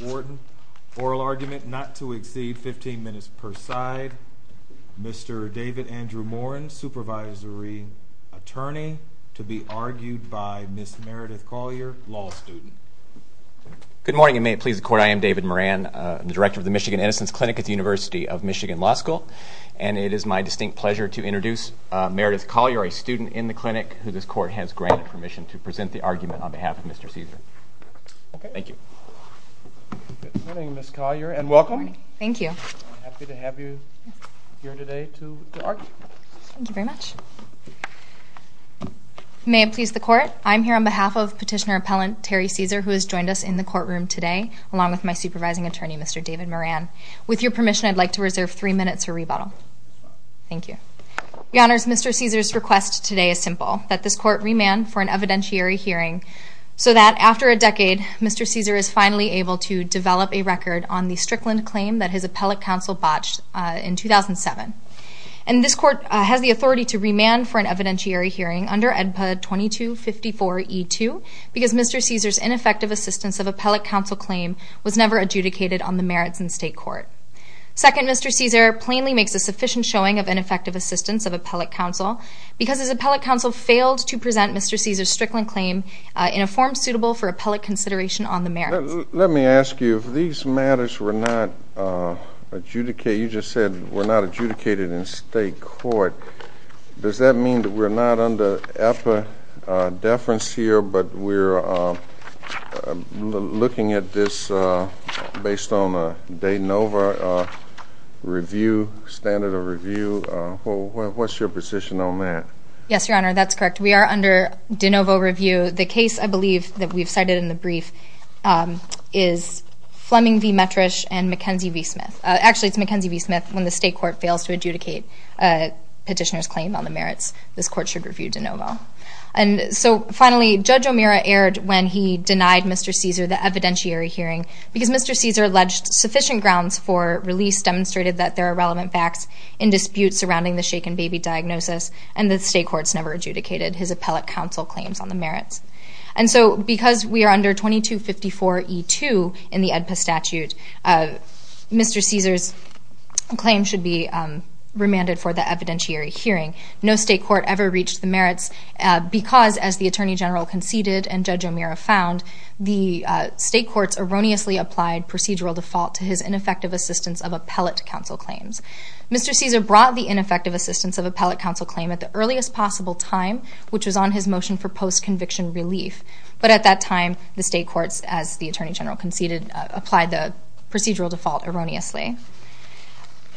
Warden, oral argument not to exceed 15 minutes per side, Mr. David Andrew Morin, supervisory attorney to be argued by Ms. Meredith Collier, law student. Good morning, and may it please the court, I am David Morin, the director of the Michigan Innocence Clinic at the University of Michigan Law School. And it is my distinct pleasure to introduce Meredith Collier, a student in the clinic who this court has granted permission to present the argument on behalf of Mr. Ceasor. Thank you. Good morning, Ms. Collier, and welcome. Thank you. I'm happy to have you here today to argue. Thank you very much. May it please the court, I'm here on behalf of petitioner appellant Terry Ceasor, who has joined us in the courtroom today, along with my supervising attorney, Mr. David Morin. With your permission, I'd like to reserve three minutes for rebuttal. Thank you. Your honors, Mr. Ceasor's request today is simple, that this court remand for an evidentiary hearing so that after a decade, Mr. Ceasor is finally able to develop a record on the Strickland claim that his appellate counsel botched in 2007. And this court has the authority to remand for an evidentiary hearing under EDPA 2254E2, because Mr. Ceasor's ineffective assistance of appellate counsel claim was never adjudicated on the merits in state court. Second, Mr. Ceasor plainly makes a sufficient showing of ineffective assistance of appellate counsel, because his appellate counsel failed to present Mr. Ceasor's Strickland claim in a form suitable for appellate consideration on the merits. Let me ask you, if these matters were not adjudicated, you just said were not adjudicated in state court, does that mean that we're not under EDPA deference here, but we're looking at this based on a De Novo review, standard of review? What's your position on that? Yes, your honor, that's correct. We are under De Novo review. The case, I believe, that we've cited in the brief is Fleming v. Metrish and McKenzie v. Smith. Actually, it's McKenzie v. Smith when the state court fails to adjudicate a petitioner's claim on the merits. This court should review De Novo. And so finally, Judge O'Meara erred when he denied Mr. Ceasor the evidentiary hearing, because Mr. Ceasor alleged sufficient grounds for release, demonstrated that there are relevant facts in dispute surrounding the shaken baby diagnosis, and the state courts never adjudicated his appellate counsel claims on the merits. And so because we are under 2254E2 in the EDPA statute, Mr. Ceasor's claim should be remanded for the evidentiary hearing. No state court ever reached the merits, because as the attorney general conceded and Judge O'Meara found, the state courts erroneously applied procedural default to his ineffective assistance of appellate counsel claims. Mr. Ceasor brought the ineffective assistance of appellate counsel claim at the earliest possible time, which was on his motion for post-conviction relief. But at that time, the state courts, as the attorney general conceded, applied the procedural default erroneously.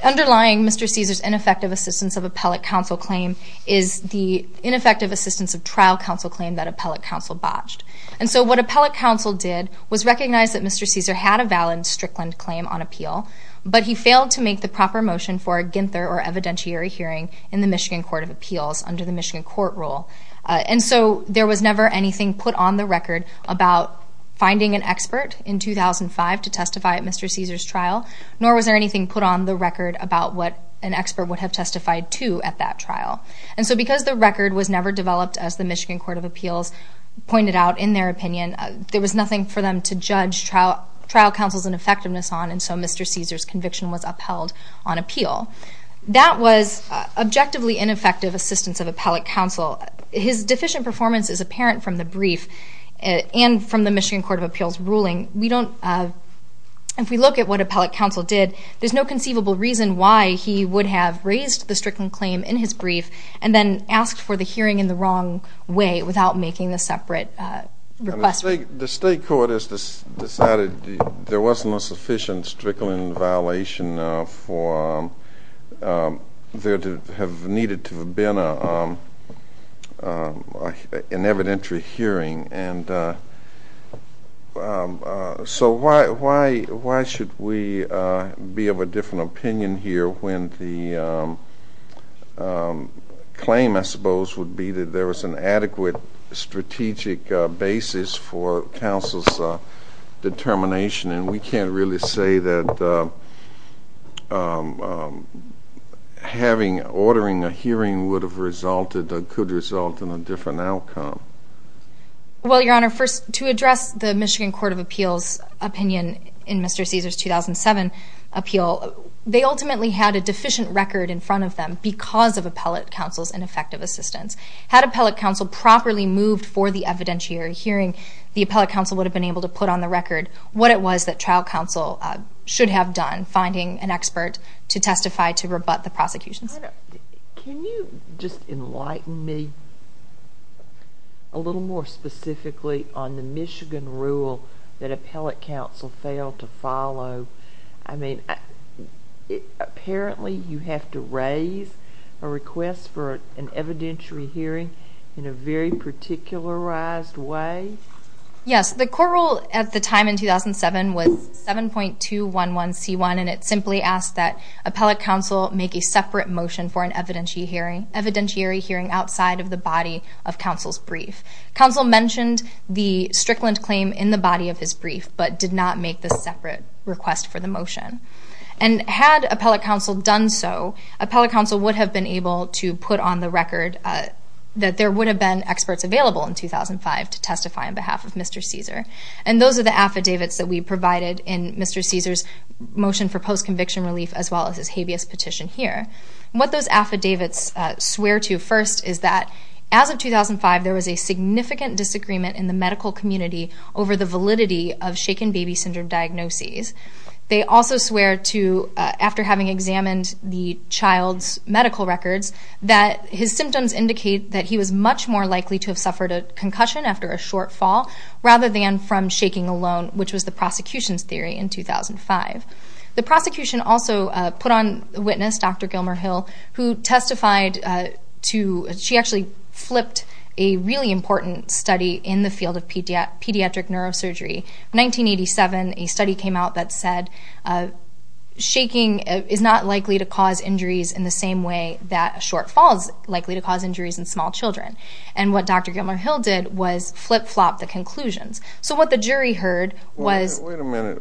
Underlying Mr. Ceasor's ineffective assistance of appellate counsel claim is the ineffective assistance of trial counsel claim that appellate counsel botched. And so what appellate counsel did was recognize that Mr. Ceasor had a valid Strickland claim on appeal, but he failed to make the proper motion for a Ginther or evidentiary hearing in the Michigan Court of Appeals under the Michigan court rule. And so there was never anything put on the record about finding an expert in 2005 to testify at Mr. Ceasor's trial, nor was there anything put on the record about what an expert would have testified to at that trial. And so because the record was never developed, as the Michigan Court of Appeals pointed out in their opinion, there was nothing for them to judge trial counsel's ineffectiveness on, and so Mr. Ceasor's conviction was upheld on appeal. That was objectively ineffective assistance of appellate counsel. His deficient performance is apparent from the brief and from the Michigan Court of Appeals ruling. If we look at what appellate counsel did, there's no conceivable reason why he would have raised the Strickland claim in his brief and then asked for the hearing in the wrong way without making the separate request. The state court has decided there wasn't a sufficient Strickland violation for there to have needed to have been an evidentiary hearing. And so why should we be of a different opinion here when the claim, I suppose, would be that there was an adequate strategic basis for counsel's determination? And we can't really say that ordering a hearing would have resulted or could result in a different outcome. Well, Your Honor, first, to address the Michigan Court of Appeals' opinion in Mr. Ceasor's 2007 appeal, they ultimately had a deficient record in front of them because of appellate counsel's ineffective assistance. Had appellate counsel properly moved for the evidentiary hearing, the appellate counsel would have been able to put on the record what it was that trial counsel should have done, finding an expert to testify to rebut the prosecution's. Can you just enlighten me a little more specifically on the Michigan rule that appellate counsel failed to follow? I mean, apparently you have to raise a request for an evidentiary hearing in a very particularized way? Yes, the court rule at the time in 2007 was 7.211c1, and it simply asked that appellate counsel make a separate motion for an evidentiary hearing outside of the body of counsel's brief. Counsel mentioned the Strickland claim in the body of his brief, but did not make the separate request for the motion. And had appellate counsel done so, appellate counsel would have been able to put on the record that there would have been experts available in 2005 to testify on behalf of Mr. Caesar. And those are the affidavits that we provided in Mr. Caesar's motion for post-conviction relief, as well as his habeas petition here. What those affidavits swear to first is that, as of 2005, there was a significant disagreement in the medical community over the validity of shaken baby syndrome diagnoses. They also swear to, after having examined the child's medical records, that his symptoms indicate that he was much more likely to have suffered a concussion after a short fall, rather than from shaking alone, which was the prosecution's theory in 2005. The prosecution also put on witness Dr. Gilmer-Hill, who testified to, she actually flipped a really important study in the field of pediatric neurosurgery. In 1987, a study came out that said, shaking is not likely to cause injuries in the same way that a short fall is likely to cause injuries in small children. And what Dr. Gilmer-Hill did was flip-flop the conclusions. So what the jury heard was... Wait a minute,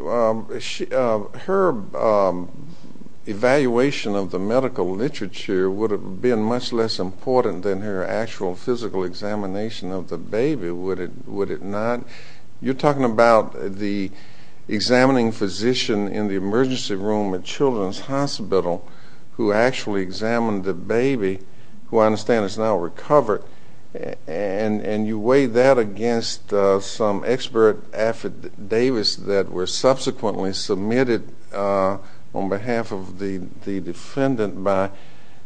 her evaluation of the medical literature would have been much less important than her actual physical examination of the baby, would it not? You're talking about the examining physician in the emergency room at Children's Hospital who actually examined the baby, who I understand is now recovered. And you weigh that against some expert affidavits that were subsequently submitted on behalf of the defendant by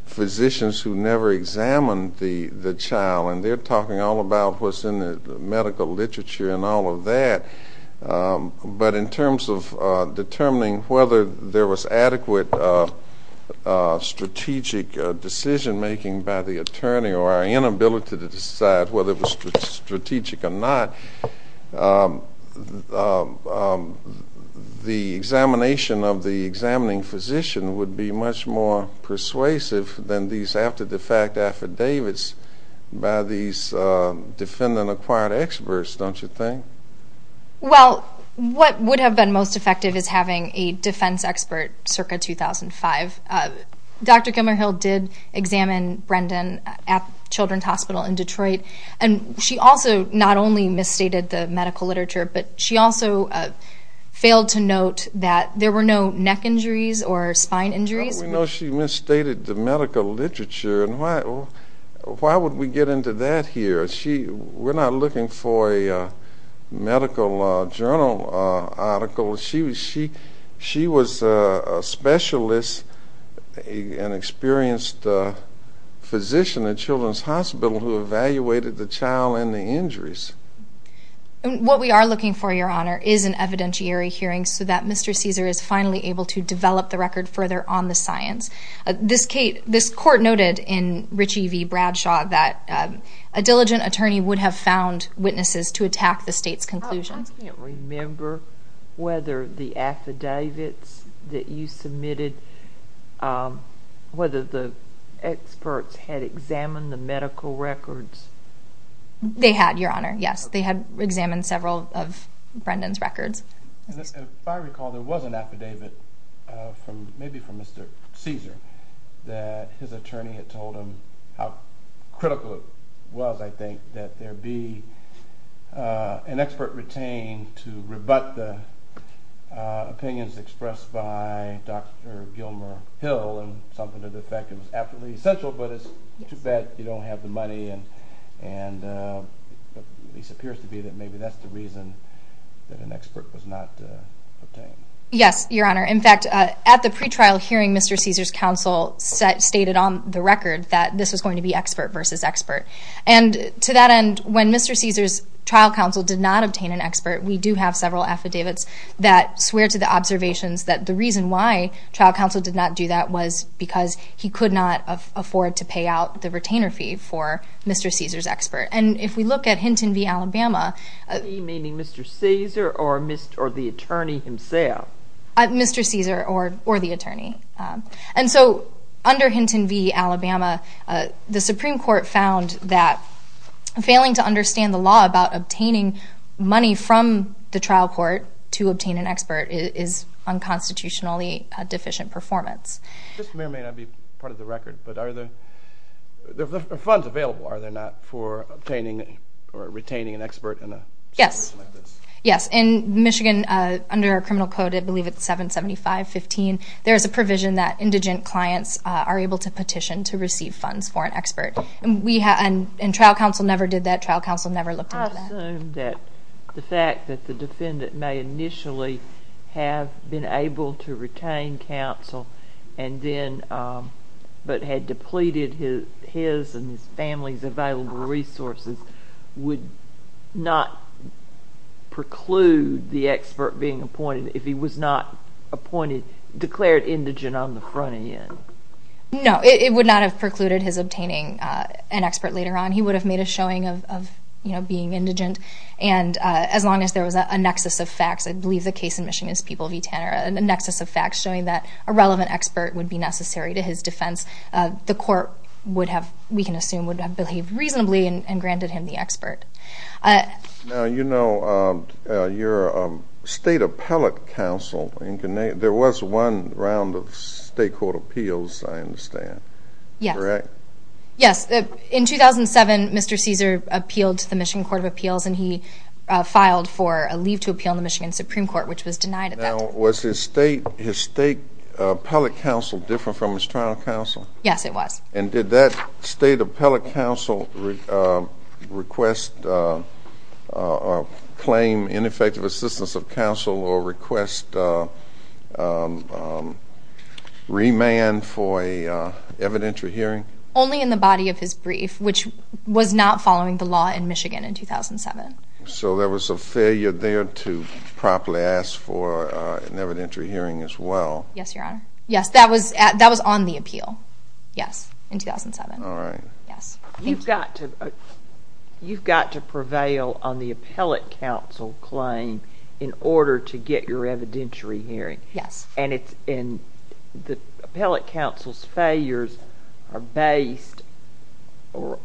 physicians who never examined the child. And they're talking all about what's in the medical literature and all of that. But in terms of determining whether there was adequate strategic decision-making by the attorney or our inability to decide whether it was strategic or not, the examination of the examining physician would be much more persuasive than these after-the-fact affidavits by these defendant-acquired experts, don't you think? Well, what would have been most effective is having a defense expert circa 2005. Dr. Gilmer-Hill did examine Brendan at Children's Hospital in Detroit. And she also not only misstated the medical literature, but she also failed to note that there were no neck injuries or spine injuries. Well, we know she misstated the medical literature. And why would we get into that here? We're not looking for a medical journal article. She was a specialist, an experienced physician at Children's Hospital who evaluated the child and the injuries. And what we are looking for, Your Honor, is an evidentiary hearing so that Mr. Caesar is finally able to develop the record further on the science. This court noted in Ritchie v. Bradshaw that a diligent attorney would have found witnesses to attack the state's conclusion. I can't remember whether the affidavits that you submitted, whether the experts had examined the medical records. They had, Your Honor, yes. They had examined several of Brendan's records. If I recall, there was an affidavit, maybe from Mr. Caesar, that his attorney had told him how critical it was, I think, that there be an expert retained to rebut the opinions expressed by Dr. Gilmer Hill and something to the effect it was absolutely essential, but it's too bad you don't have the money. And this appears to be that maybe that's the reason that an expert was not obtained. Yes, Your Honor. In fact, at the pretrial hearing, Mr. Caesar's counsel stated on the record that this was going to be expert versus expert. And to that end, when Mr. Caesar's trial counsel did not obtain an expert, we do have several affidavits that swear to the observations that the reason why trial counsel did not do that was because he could not afford to pay out the retainer fee for Mr. Caesar's expert. And if we look at Hinton v. Alabama. Meaning Mr. Caesar or the attorney himself. Mr. Caesar or the attorney. And so under Hinton v. Alabama, the Supreme Court found that failing to understand the law about obtaining money from the trial court to obtain an expert is unconstitutionally a deficient performance. Mr. Mayor, may I be part of the record, but are there funds available? Are there not for obtaining or retaining an expert in a situation like this? Yes, in Michigan, under our criminal code, I believe it's 775.15, there is a provision that indigent clients are able to petition to receive funds for an expert. And trial counsel never did that, trial counsel never looked into that. I assume that the fact that the defendant may initially have been able to retain counsel but had depleted his and his family's available resources would not preclude the expert being appointed if he was not appointed, declared indigent on the front end. No, it would not have precluded his obtaining an expert later on. He would have made a showing of being indigent. And as long as there was a nexus of facts, I believe the case in Michigan is People v. Tanner, and the nexus of facts showing that a relevant expert would be necessary to his defense, the court would have, we can assume, would have behaved reasonably and granted him the expert. Now, you're a state appellate counsel in Connecticut. There was one round of state court appeals, I understand. Yes. Correct? Yes, in 2007, Mr. Caesar appealed to the Michigan Court of Appeals, and he filed for a leave to appeal in the Michigan Supreme Court, which was denied at that time. Now, was his state appellate counsel different from his trial counsel? Yes, it was. And did that state appellate counsel request claim ineffective assistance of counsel or request remand for a evidentiary hearing? Only in the body of his brief, which was not following the law in Michigan in 2007. So there was a failure there to properly ask for an evidentiary hearing as well. Yes, Your Honor. Yes, that was on the appeal. Yes, in 2007. All right. Yes. You've got to prevail on the appellate counsel claim in order to get your evidentiary hearing. Yes. And the appellate counsel's failures are based or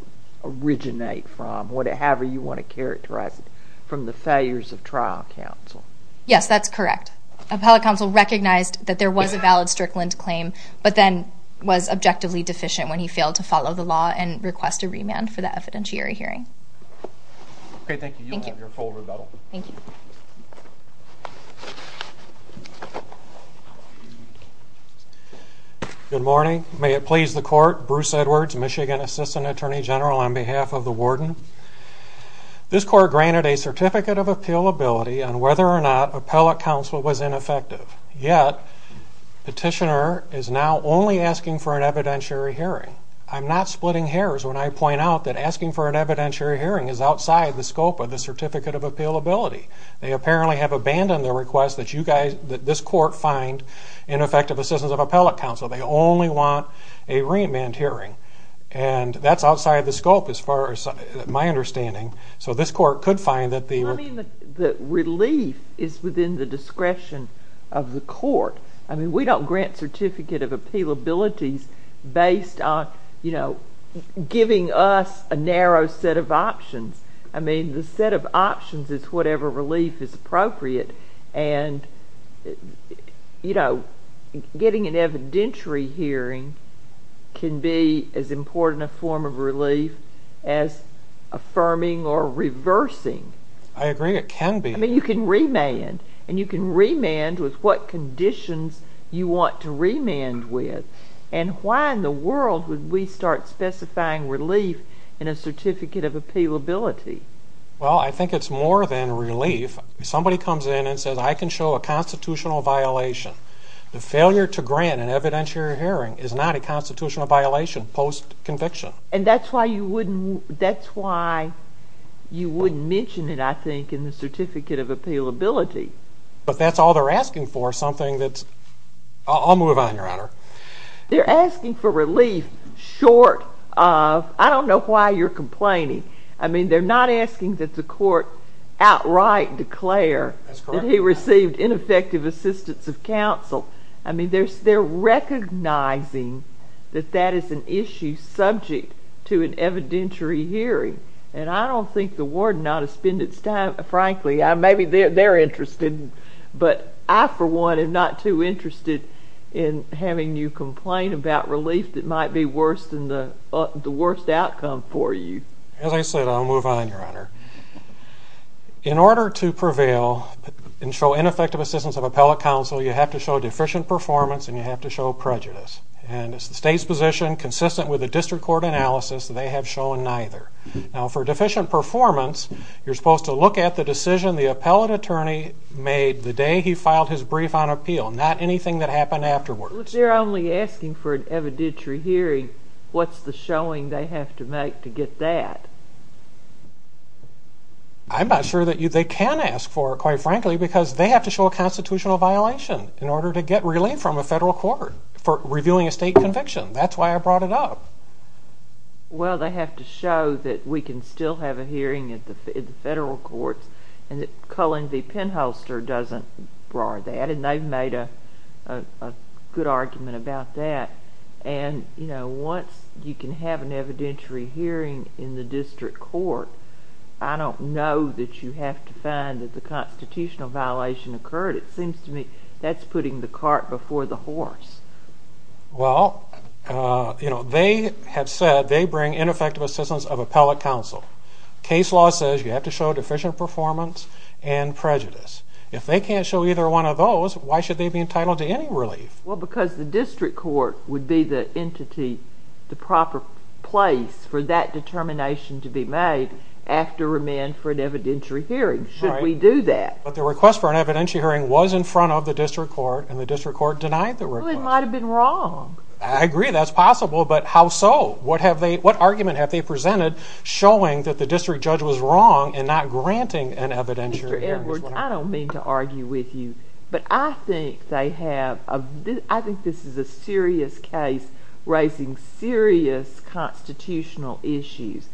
originate from, however you want to characterize it, from the failures of trial counsel. Yes, that's correct. Appellate counsel recognized that there was a valid Strickland claim, but then was objectively deficient when he failed to follow the law and request a remand for the evidentiary hearing. Okay, thank you. You'll have your full rebuttal. Thank you. Good morning. May it please the court, Bruce Edwards, Michigan Assistant Attorney General on behalf of the warden. This court granted a certificate of appealability on whether or not appellate counsel was ineffective, yet petitioner is now only asking for an evidentiary hearing. I'm not splitting hairs when I point out that asking for an evidentiary hearing is outside the scope of the certificate of appealability. They apparently have abandoned the request that this court find ineffective assistance of appellate counsel. They only want a remand hearing. And that's outside the scope as far as my understanding. So this court could find that the- I mean, the relief is within the discretion of the court. I mean, we don't grant certificate of appealability based on, you know, giving us a narrow set of options. I mean, the set of options is whatever relief is appropriate. And, you know, getting an evidentiary hearing can be as important a form of relief as affirming or reversing. I agree. It can be. I mean, you can remand, and you can remand with what conditions you want to remand with. And why in the world would we start specifying relief in a certificate of appealability? Well, I think it's more than relief. Somebody comes in and says, I can show a constitutional violation. The failure to grant an evidentiary hearing is not a constitutional violation post-conviction. And that's why you wouldn't, that's why you wouldn't mention it, I think, in the certificate of appealability. But that's all they're asking for, something that's, I'll move on, Your Honor. They're asking for relief short of, I don't know why you're complaining. I mean, they're not asking that the court outright declare that he received ineffective assistance of counsel. I mean, they're recognizing that that is an issue subject to an evidentiary hearing. And I don't think the warden ought to spend its time, frankly, maybe they're interested, but I, for one, am not too interested in having you complain about relief that might be worse than the worst outcome for you. As I said, I'll move on, Your Honor. In order to prevail and show ineffective assistance of appellate counsel, you have to show deficient performance and you have to show prejudice. And it's the state's position, consistent with the district court analysis, that they have shown neither. Now, for deficient performance, you're supposed to look at the decision the appellate attorney made the day he filed his brief on appeal, not anything that happened afterwards. If they're only asking for an evidentiary hearing, what's the showing they have to make to get that? I'm not sure that they can ask for it, quite frankly, because they have to show a constitutional violation in order to get relief from a federal court for reviewing a state conviction. That's why I brought it up. Well, they have to show that we can still have a hearing at the federal courts, and that Cullen v. Penholster doesn't bar that, and they've made a good argument about that. And, you know, once you can have an evidentiary hearing in the district court, I don't know that you have to find that the constitutional violation occurred. It seems to me that's putting the cart before the horse. Well, you know, they have said they bring ineffective assistance of appellate counsel. Case law says you have to show deficient performance and prejudice. If they can't show either one of those, why should they be entitled to any relief? Well, because the district court would be the entity, the proper place for that determination to be made after remand for an evidentiary hearing. Should we do that? But the request for an evidentiary hearing was in front of the district court, and the district court denied the request. Well, it might've been wrong. I agree, that's possible, but how so? What argument have they presented showing that the district judge was wrong in not granting an evidentiary hearing? Mr. Edwards, I don't mean to argue with you, but I think they have, I think this is a serious case raising serious constitutional issues,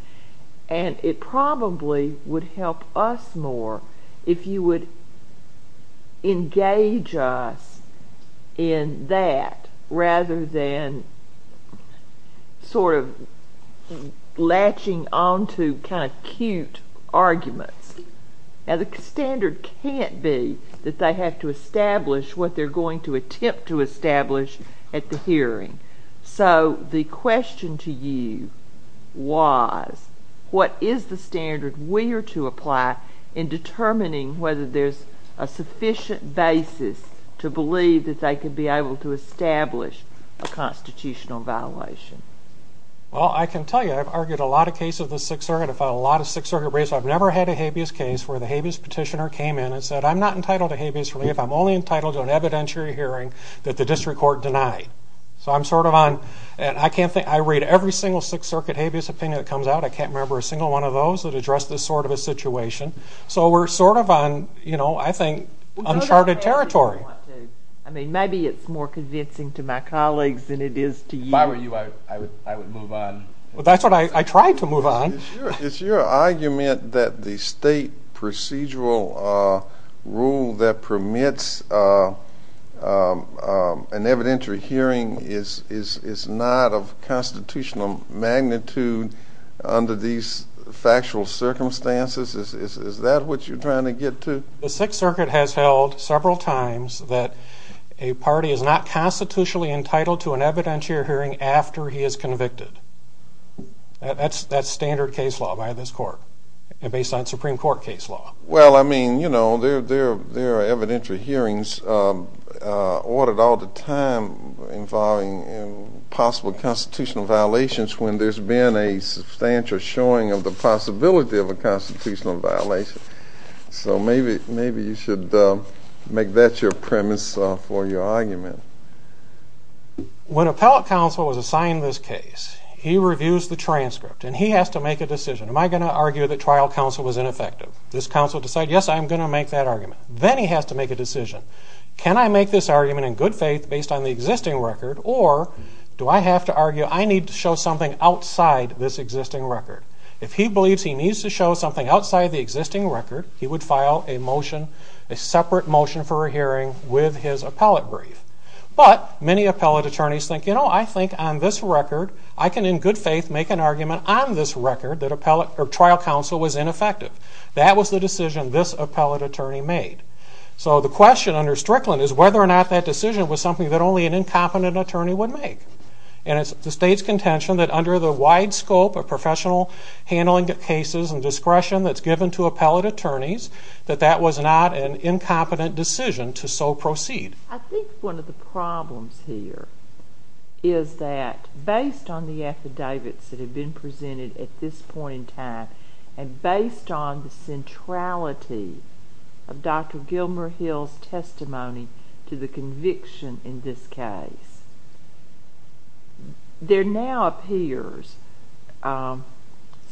and it probably would help us more if you would engage us in that rather than sort of latching onto kind of cute arguments. Now, the standard can't be that they have to establish what they're going to attempt to establish at the hearing. So the question to you was, what is the standard we are to apply in determining whether there's a sufficient basis to believe that they could be able to establish a constitutional violation? Well, I can tell you, I've argued a lot of cases of the Sixth Circuit. I've filed a lot of Sixth Circuit briefs. I've never had a habeas case where the habeas petitioner came in and said, I'm not entitled to habeas relief. I'm only entitled to an evidentiary hearing that the district court denied. So I'm sort of on, and I can't think, I read every single Sixth Circuit habeas opinion that comes out. I can't remember a single one of those that address this sort of a situation. So we're sort of on, I think, uncharted territory. I mean, maybe it's more convincing to my colleagues than it is to you. If I were you, I would move on. Well, that's what I tried to move on. Is your argument that the state procedural rule that permits an evidentiary hearing is not of constitutional magnitude under these factual circumstances? Is that what you're trying to get to? The Sixth Circuit has held several times that a party is not constitutionally entitled to an evidentiary hearing after he is convicted. That's standard case law by this court, and based on Supreme Court case law. Well, I mean, you know, there are evidentiary hearings ordered all the time involving possible constitutional violations when there's been a substantial showing of the possibility of a constitutional violation. So maybe you should make that your premise for your argument. When appellate counsel was assigned this case, he reviews the transcript, and he has to make a decision. Am I gonna argue that trial counsel was ineffective? This counsel decided, yes, I'm gonna make that argument. Then he has to make a decision. Can I make this argument in good faith based on the existing record, or do I have to argue I need to show something outside this existing record? If he believes he needs to show something outside the existing record, he would file a motion, a separate motion for a hearing with his appellate brief. But many appellate attorneys think, you know, I think on this record, I can in good faith make an argument on this record that trial counsel was ineffective. That was the decision this appellate attorney made. So the question under Strickland is whether or not that decision was something that only an incompetent attorney would make. And it's the state's contention that under the wide scope of professional handling of cases and discretion that's given to appellate attorneys, that that was not an incompetent decision to so proceed. I think one of the problems here is that based on the affidavits that have been presented at this point in time, and based on the centrality of Dr. Gilmer Hill's testimony to the conviction in this case, there now appears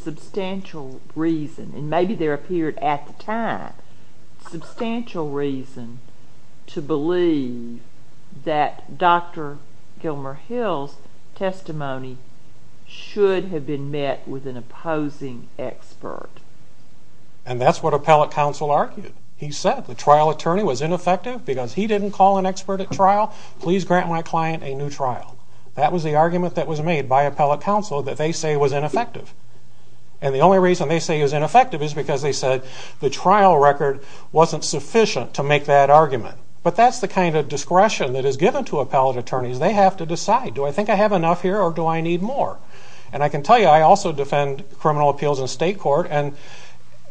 substantial reason, and maybe there appeared at the time, substantial reason to believe that Dr. Gilmer Hill's testimony should have been met with an opposing expert. And that's what appellate counsel argued. He said the trial attorney was ineffective because he didn't call an expert at trial. Please grant my client a new trial. That was the argument that was made by appellate counsel that they say was ineffective. And the only reason they say it was ineffective is because they said the trial record wasn't sufficient to make that argument. But that's the kind of discretion that is given to appellate attorneys. They have to decide, do I think I have enough here or do I need more? And I can tell you, I also defend criminal appeals in state court, and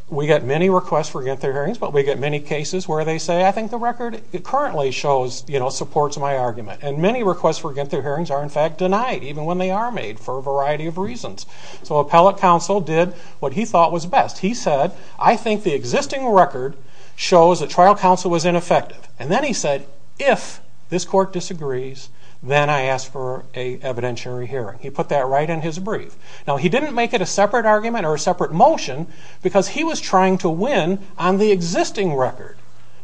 we get many requests for get-through hearings, but we get many cases where they say, I think the record currently supports my argument. And many requests for get-through hearings are in fact denied, even when they are made for a variety of reasons. So appellate counsel did what he thought was best. He said, I think the existing record shows that trial counsel was ineffective. And then he said, if this court disagrees, then I ask for a evidentiary hearing. He put that right in his brief. Now, he didn't make it a separate argument or a separate motion, because he was trying to win on the existing record.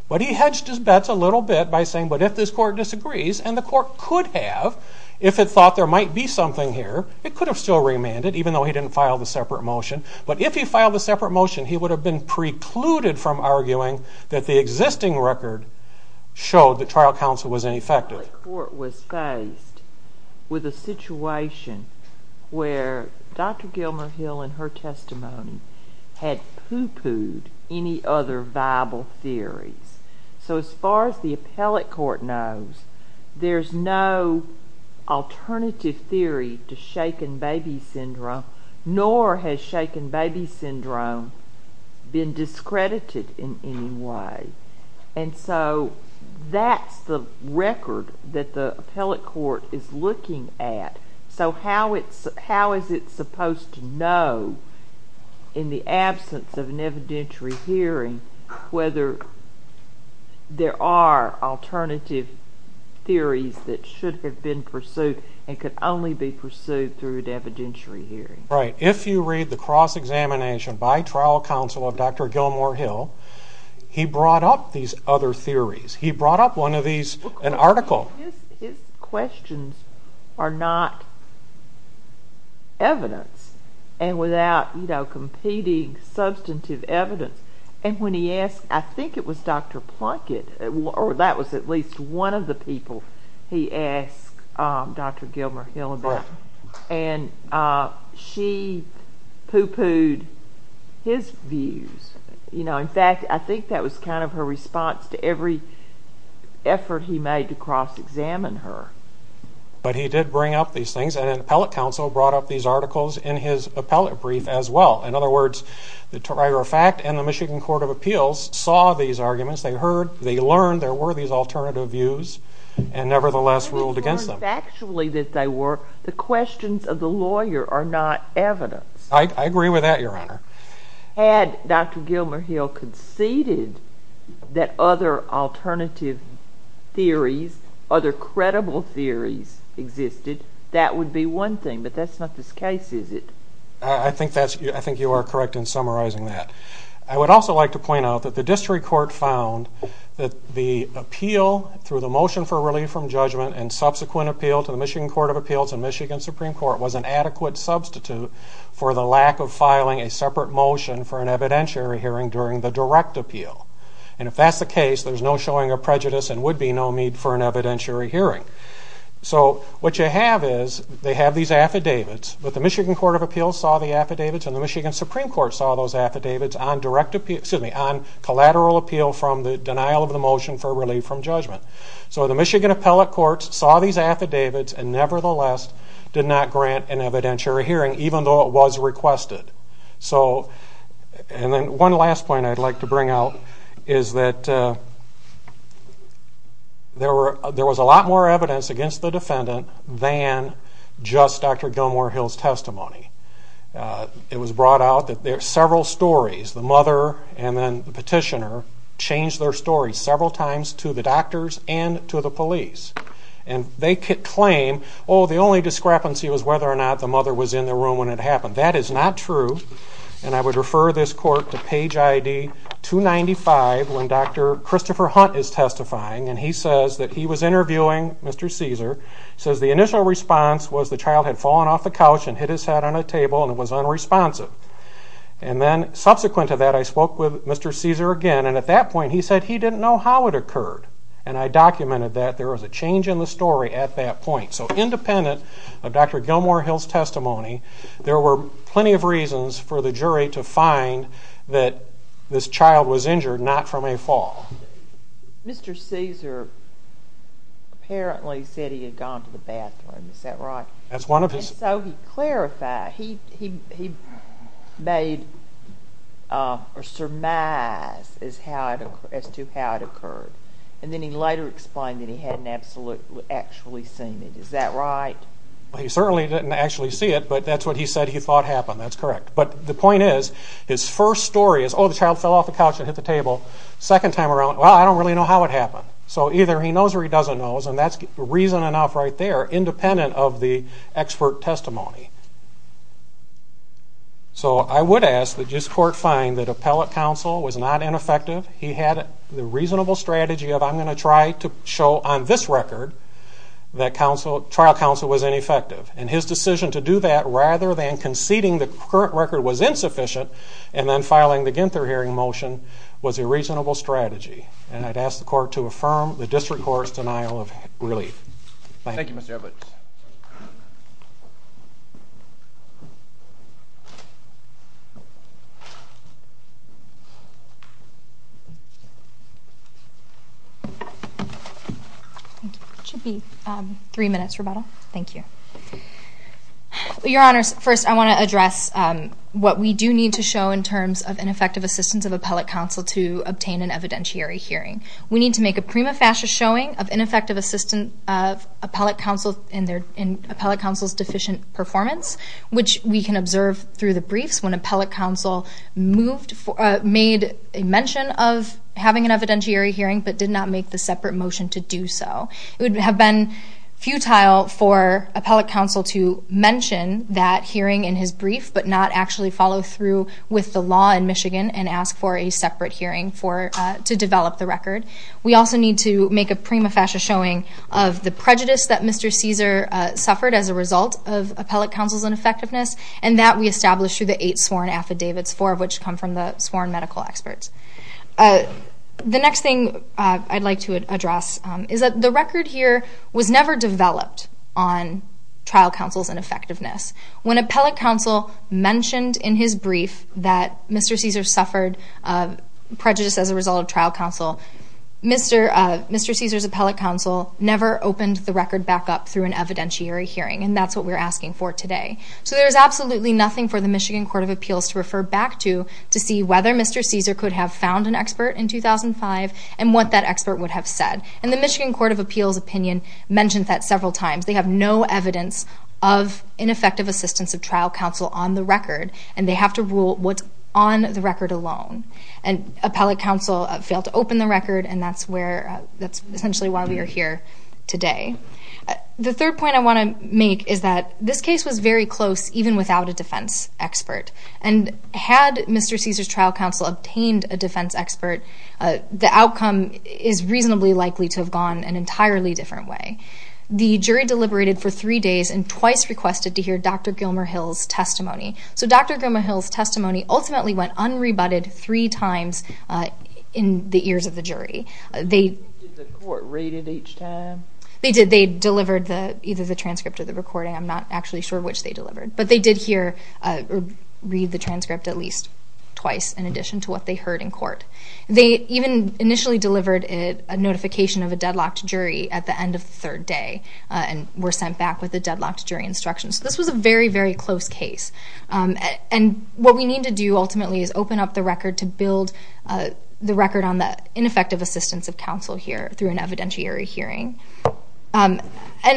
But he hedged his bets a little bit by saying, but if this court disagrees, and the court could have, if it thought there might be something here, it could have still remanded, even though he didn't file the separate motion. But if he filed a separate motion, he would have been precluded from arguing that the existing record showed that trial counsel was ineffective. Court was faced with a situation where Dr. Gilmer Hill, in her testimony, had poo-pooed any other viable theories. So as far as the appellate court knows, there's no alternative theory to shaken baby syndrome, nor has shaken baby syndrome been discredited in any way. And so that's the record that the appellate court is looking at. So how is it supposed to know, in the absence of an evidentiary hearing, whether there are alternative theories that should have been pursued and could only be pursued through an evidentiary hearing? Right, if you read the cross-examination by trial counsel of Dr. Gilmer Hill, he brought up these other theories. He brought up one of these, an article. His questions are not evidence, and without competing substantive evidence. And when he asked, I think it was Dr. Plunkett, or that was at least one of the people, he asked Dr. Gilmer Hill about, and she poo-pooed his views. You know, in fact, I think that was kind of her response to every effort he made to cross-examine her. But he did bring up these things, and an appellate counsel brought up these articles in his appellate brief as well. In other words, the Toronto Fact and the Michigan Court of Appeals saw these arguments. They heard, they learned there were these alternative views, and nevertheless ruled against them. They learned factually that they were, the questions of the lawyer are not evidence. I agree with that, Your Honor. Had Dr. Gilmer Hill conceded that other alternative theories, other credible theories existed, that would be one thing, but that's not this case, is it? I think you are correct in summarizing that. I would also like to point out that the district court found that the appeal through the motion for relief from judgment and subsequent appeal to the Michigan Court of Appeals and Michigan Supreme Court was an adequate substitute for the lack of filing a separate motion for an evidentiary hearing during the direct appeal. And if that's the case, there's no showing of prejudice and would be no need for an evidentiary hearing. So what you have is, they have these affidavits, but the Michigan Court of Appeals saw the affidavits and the Michigan Supreme Court saw those affidavits on direct appeal, excuse me, on collateral appeal from the denial of the motion for relief from judgment. So the Michigan Appellate Courts saw these affidavits and nevertheless did not grant an evidentiary hearing even though it was requested. So, and then one last point I'd like to bring out is that there was a lot more evidence against the defendant than just Dr. Gilmer Hill's testimony. It was brought out that there are several stories, the mother and then the petitioner changed their story several times to the doctors and to the police. And they could claim, oh, the only discrepancy was whether or not the mother was in the room when it happened. That is not true. And I would refer this court to page ID 295 when Dr. Christopher Hunt is testifying. And he says that he was interviewing Mr. Caesar, says the initial response was the child had fallen off the couch and hit his head on a table and it was unresponsive. And then subsequent to that, I spoke with Mr. Caesar again. And at that point, he said he didn't know how it occurred. And I documented that there was a change in the story at that point. So independent of Dr. Gilmer Hill's testimony, there were plenty of reasons for the jury to find that this child was injured, not from a fall. Mr. Caesar apparently said he had gone to the bathroom. Is that right? That's one of his- Made or surmise as to how it occurred. And then he later explained that he hadn't actually seen it. Is that right? Well, he certainly didn't actually see it, but that's what he said he thought happened. That's correct. But the point is, his first story is, oh, the child fell off the couch and hit the table. Second time around, well, I don't really know how it happened. So either he knows or he doesn't know. And that's reason enough right there, independent of the expert testimony. So I would ask that this court find that appellate counsel was not ineffective. He had the reasonable strategy of, I'm going to try to show on this record that trial counsel was ineffective. And his decision to do that, rather than conceding the current record was insufficient, and then filing the Ginther hearing motion was a reasonable strategy. And I'd ask the court to affirm the district court's denial of relief. Thank you. Thank you, Mr. Evlitz. Thank you. It should be three minutes, Roberta. Thank you. Your Honors, first I want to address what we do need to show in terms of ineffective assistance of appellate counsel to obtain an evidentiary hearing. We need to make a prima facie showing of ineffective assistance of appellate counsel in appellate counsel's deficient performance, which we can observe through the briefs when appellate counsel made a mention of having an evidentiary hearing, but did not make the separate motion to do so. It would have been futile for appellate counsel to mention that hearing in his brief, but not actually follow through with the law in Michigan and ask for a separate hearing to develop the record. We also need to make a prima facie showing of the prejudice that Mr. Cesar suffered as a result of appellate counsel's ineffectiveness, and that we establish through the eight sworn affidavits, four of which come from the sworn medical experts. The next thing I'd like to address is that the record here was never developed on trial counsel's ineffectiveness. When appellate counsel mentioned in his brief that Mr. Cesar suffered prejudice as a result of trial counsel, Mr. Cesar's appellate counsel never opened the record back up through an evidentiary hearing, and that's what we're asking for today. So there's absolutely nothing for the Michigan Court of Appeals to refer back to to see whether Mr. Cesar could have found an expert in 2005 and what that expert would have said. And the Michigan Court of Appeals opinion mentioned that several times. They have no evidence of ineffective assistance of trial counsel on the record, and they have to rule what's on the record alone. And appellate counsel failed to open the record, and that's essentially why we are here today. The third point I want to make is that this case was very close even without a defense expert. And had Mr. Cesar's trial counsel obtained a defense expert, the outcome is reasonably likely to have gone an entirely different way. The jury deliberated for three days and twice requested to hear Dr. Gilmer-Hill's testimony. So Dr. Gilmer-Hill's testimony ultimately went unrebutted three times in the ears of the jury. They- Did the court read it each time? They did. They delivered either the transcript or the recording. I'm not actually sure which they delivered, but they did hear or read the transcript at least twice in addition to what they heard in court. They even initially delivered a notification of a deadlocked jury at the end of the third day and were sent back with a deadlocked jury instruction. So this was a very, very close case. And what we need to do ultimately is open up the record to build the record on the ineffective assistance of counsel here through an evidentiary hearing. And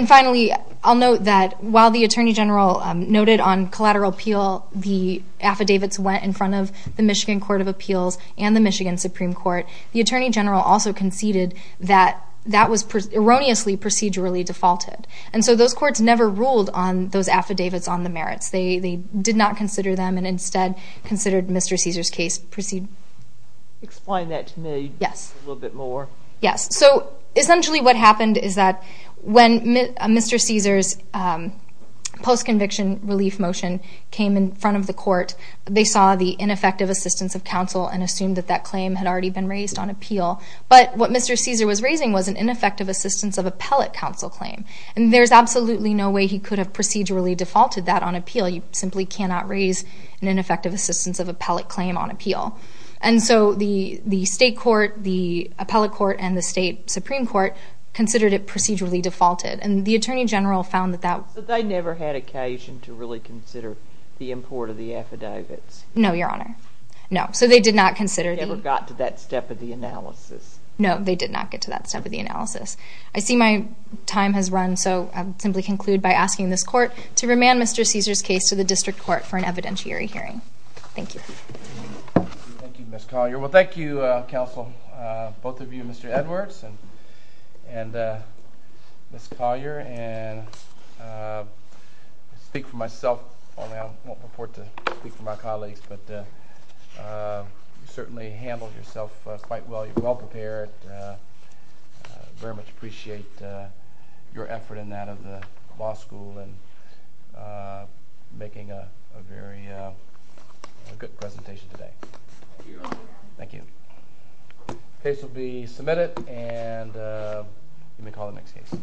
finally, I'll note that while the attorney general noted on collateral appeal, the affidavits went in front of the Michigan Court of Appeals and the Michigan Supreme Court, the attorney general also conceded that that was erroneously procedurally defaulted. And so those courts never ruled on those affidavits on the merits. They did not consider them and instead considered Mr. Cesar's case proceed. Explain that to me a little bit more. Yes, so essentially what happened is that when Mr. Cesar's post-conviction relief motion came in front of the court, they saw the ineffective assistance of counsel and assumed that that claim had already been raised on appeal. But what Mr. Cesar was raising was an ineffective assistance of appellate counsel claim. And there's absolutely no way he could have procedurally defaulted that on appeal. You simply cannot raise an ineffective assistance of appellate claim on appeal. And so the state court, the appellate court, and the state Supreme Court considered it procedurally defaulted. And the attorney general found that that- So they never had occasion to really consider the import of the affidavits? No, Your Honor, no. So they did not consider the- They never got to that step of the analysis? No, they did not get to that step of the analysis. I see my time has run. So I'll simply conclude by asking this court to remand Mr. Cesar's case to the district court for an evidentiary hearing. Thank you. Thank you, Ms. Collier. Well, thank you, counsel, both of you, Mr. Edwards and Ms. Collier. And I speak for myself only, I won't report to speak for my colleagues, but you certainly handled yourself quite well. You're well-prepared. And I, in part, very much appreciate your effort in that of the law school in making a very good presentation today. Thank you. Case will be submitted, and you may call the next case.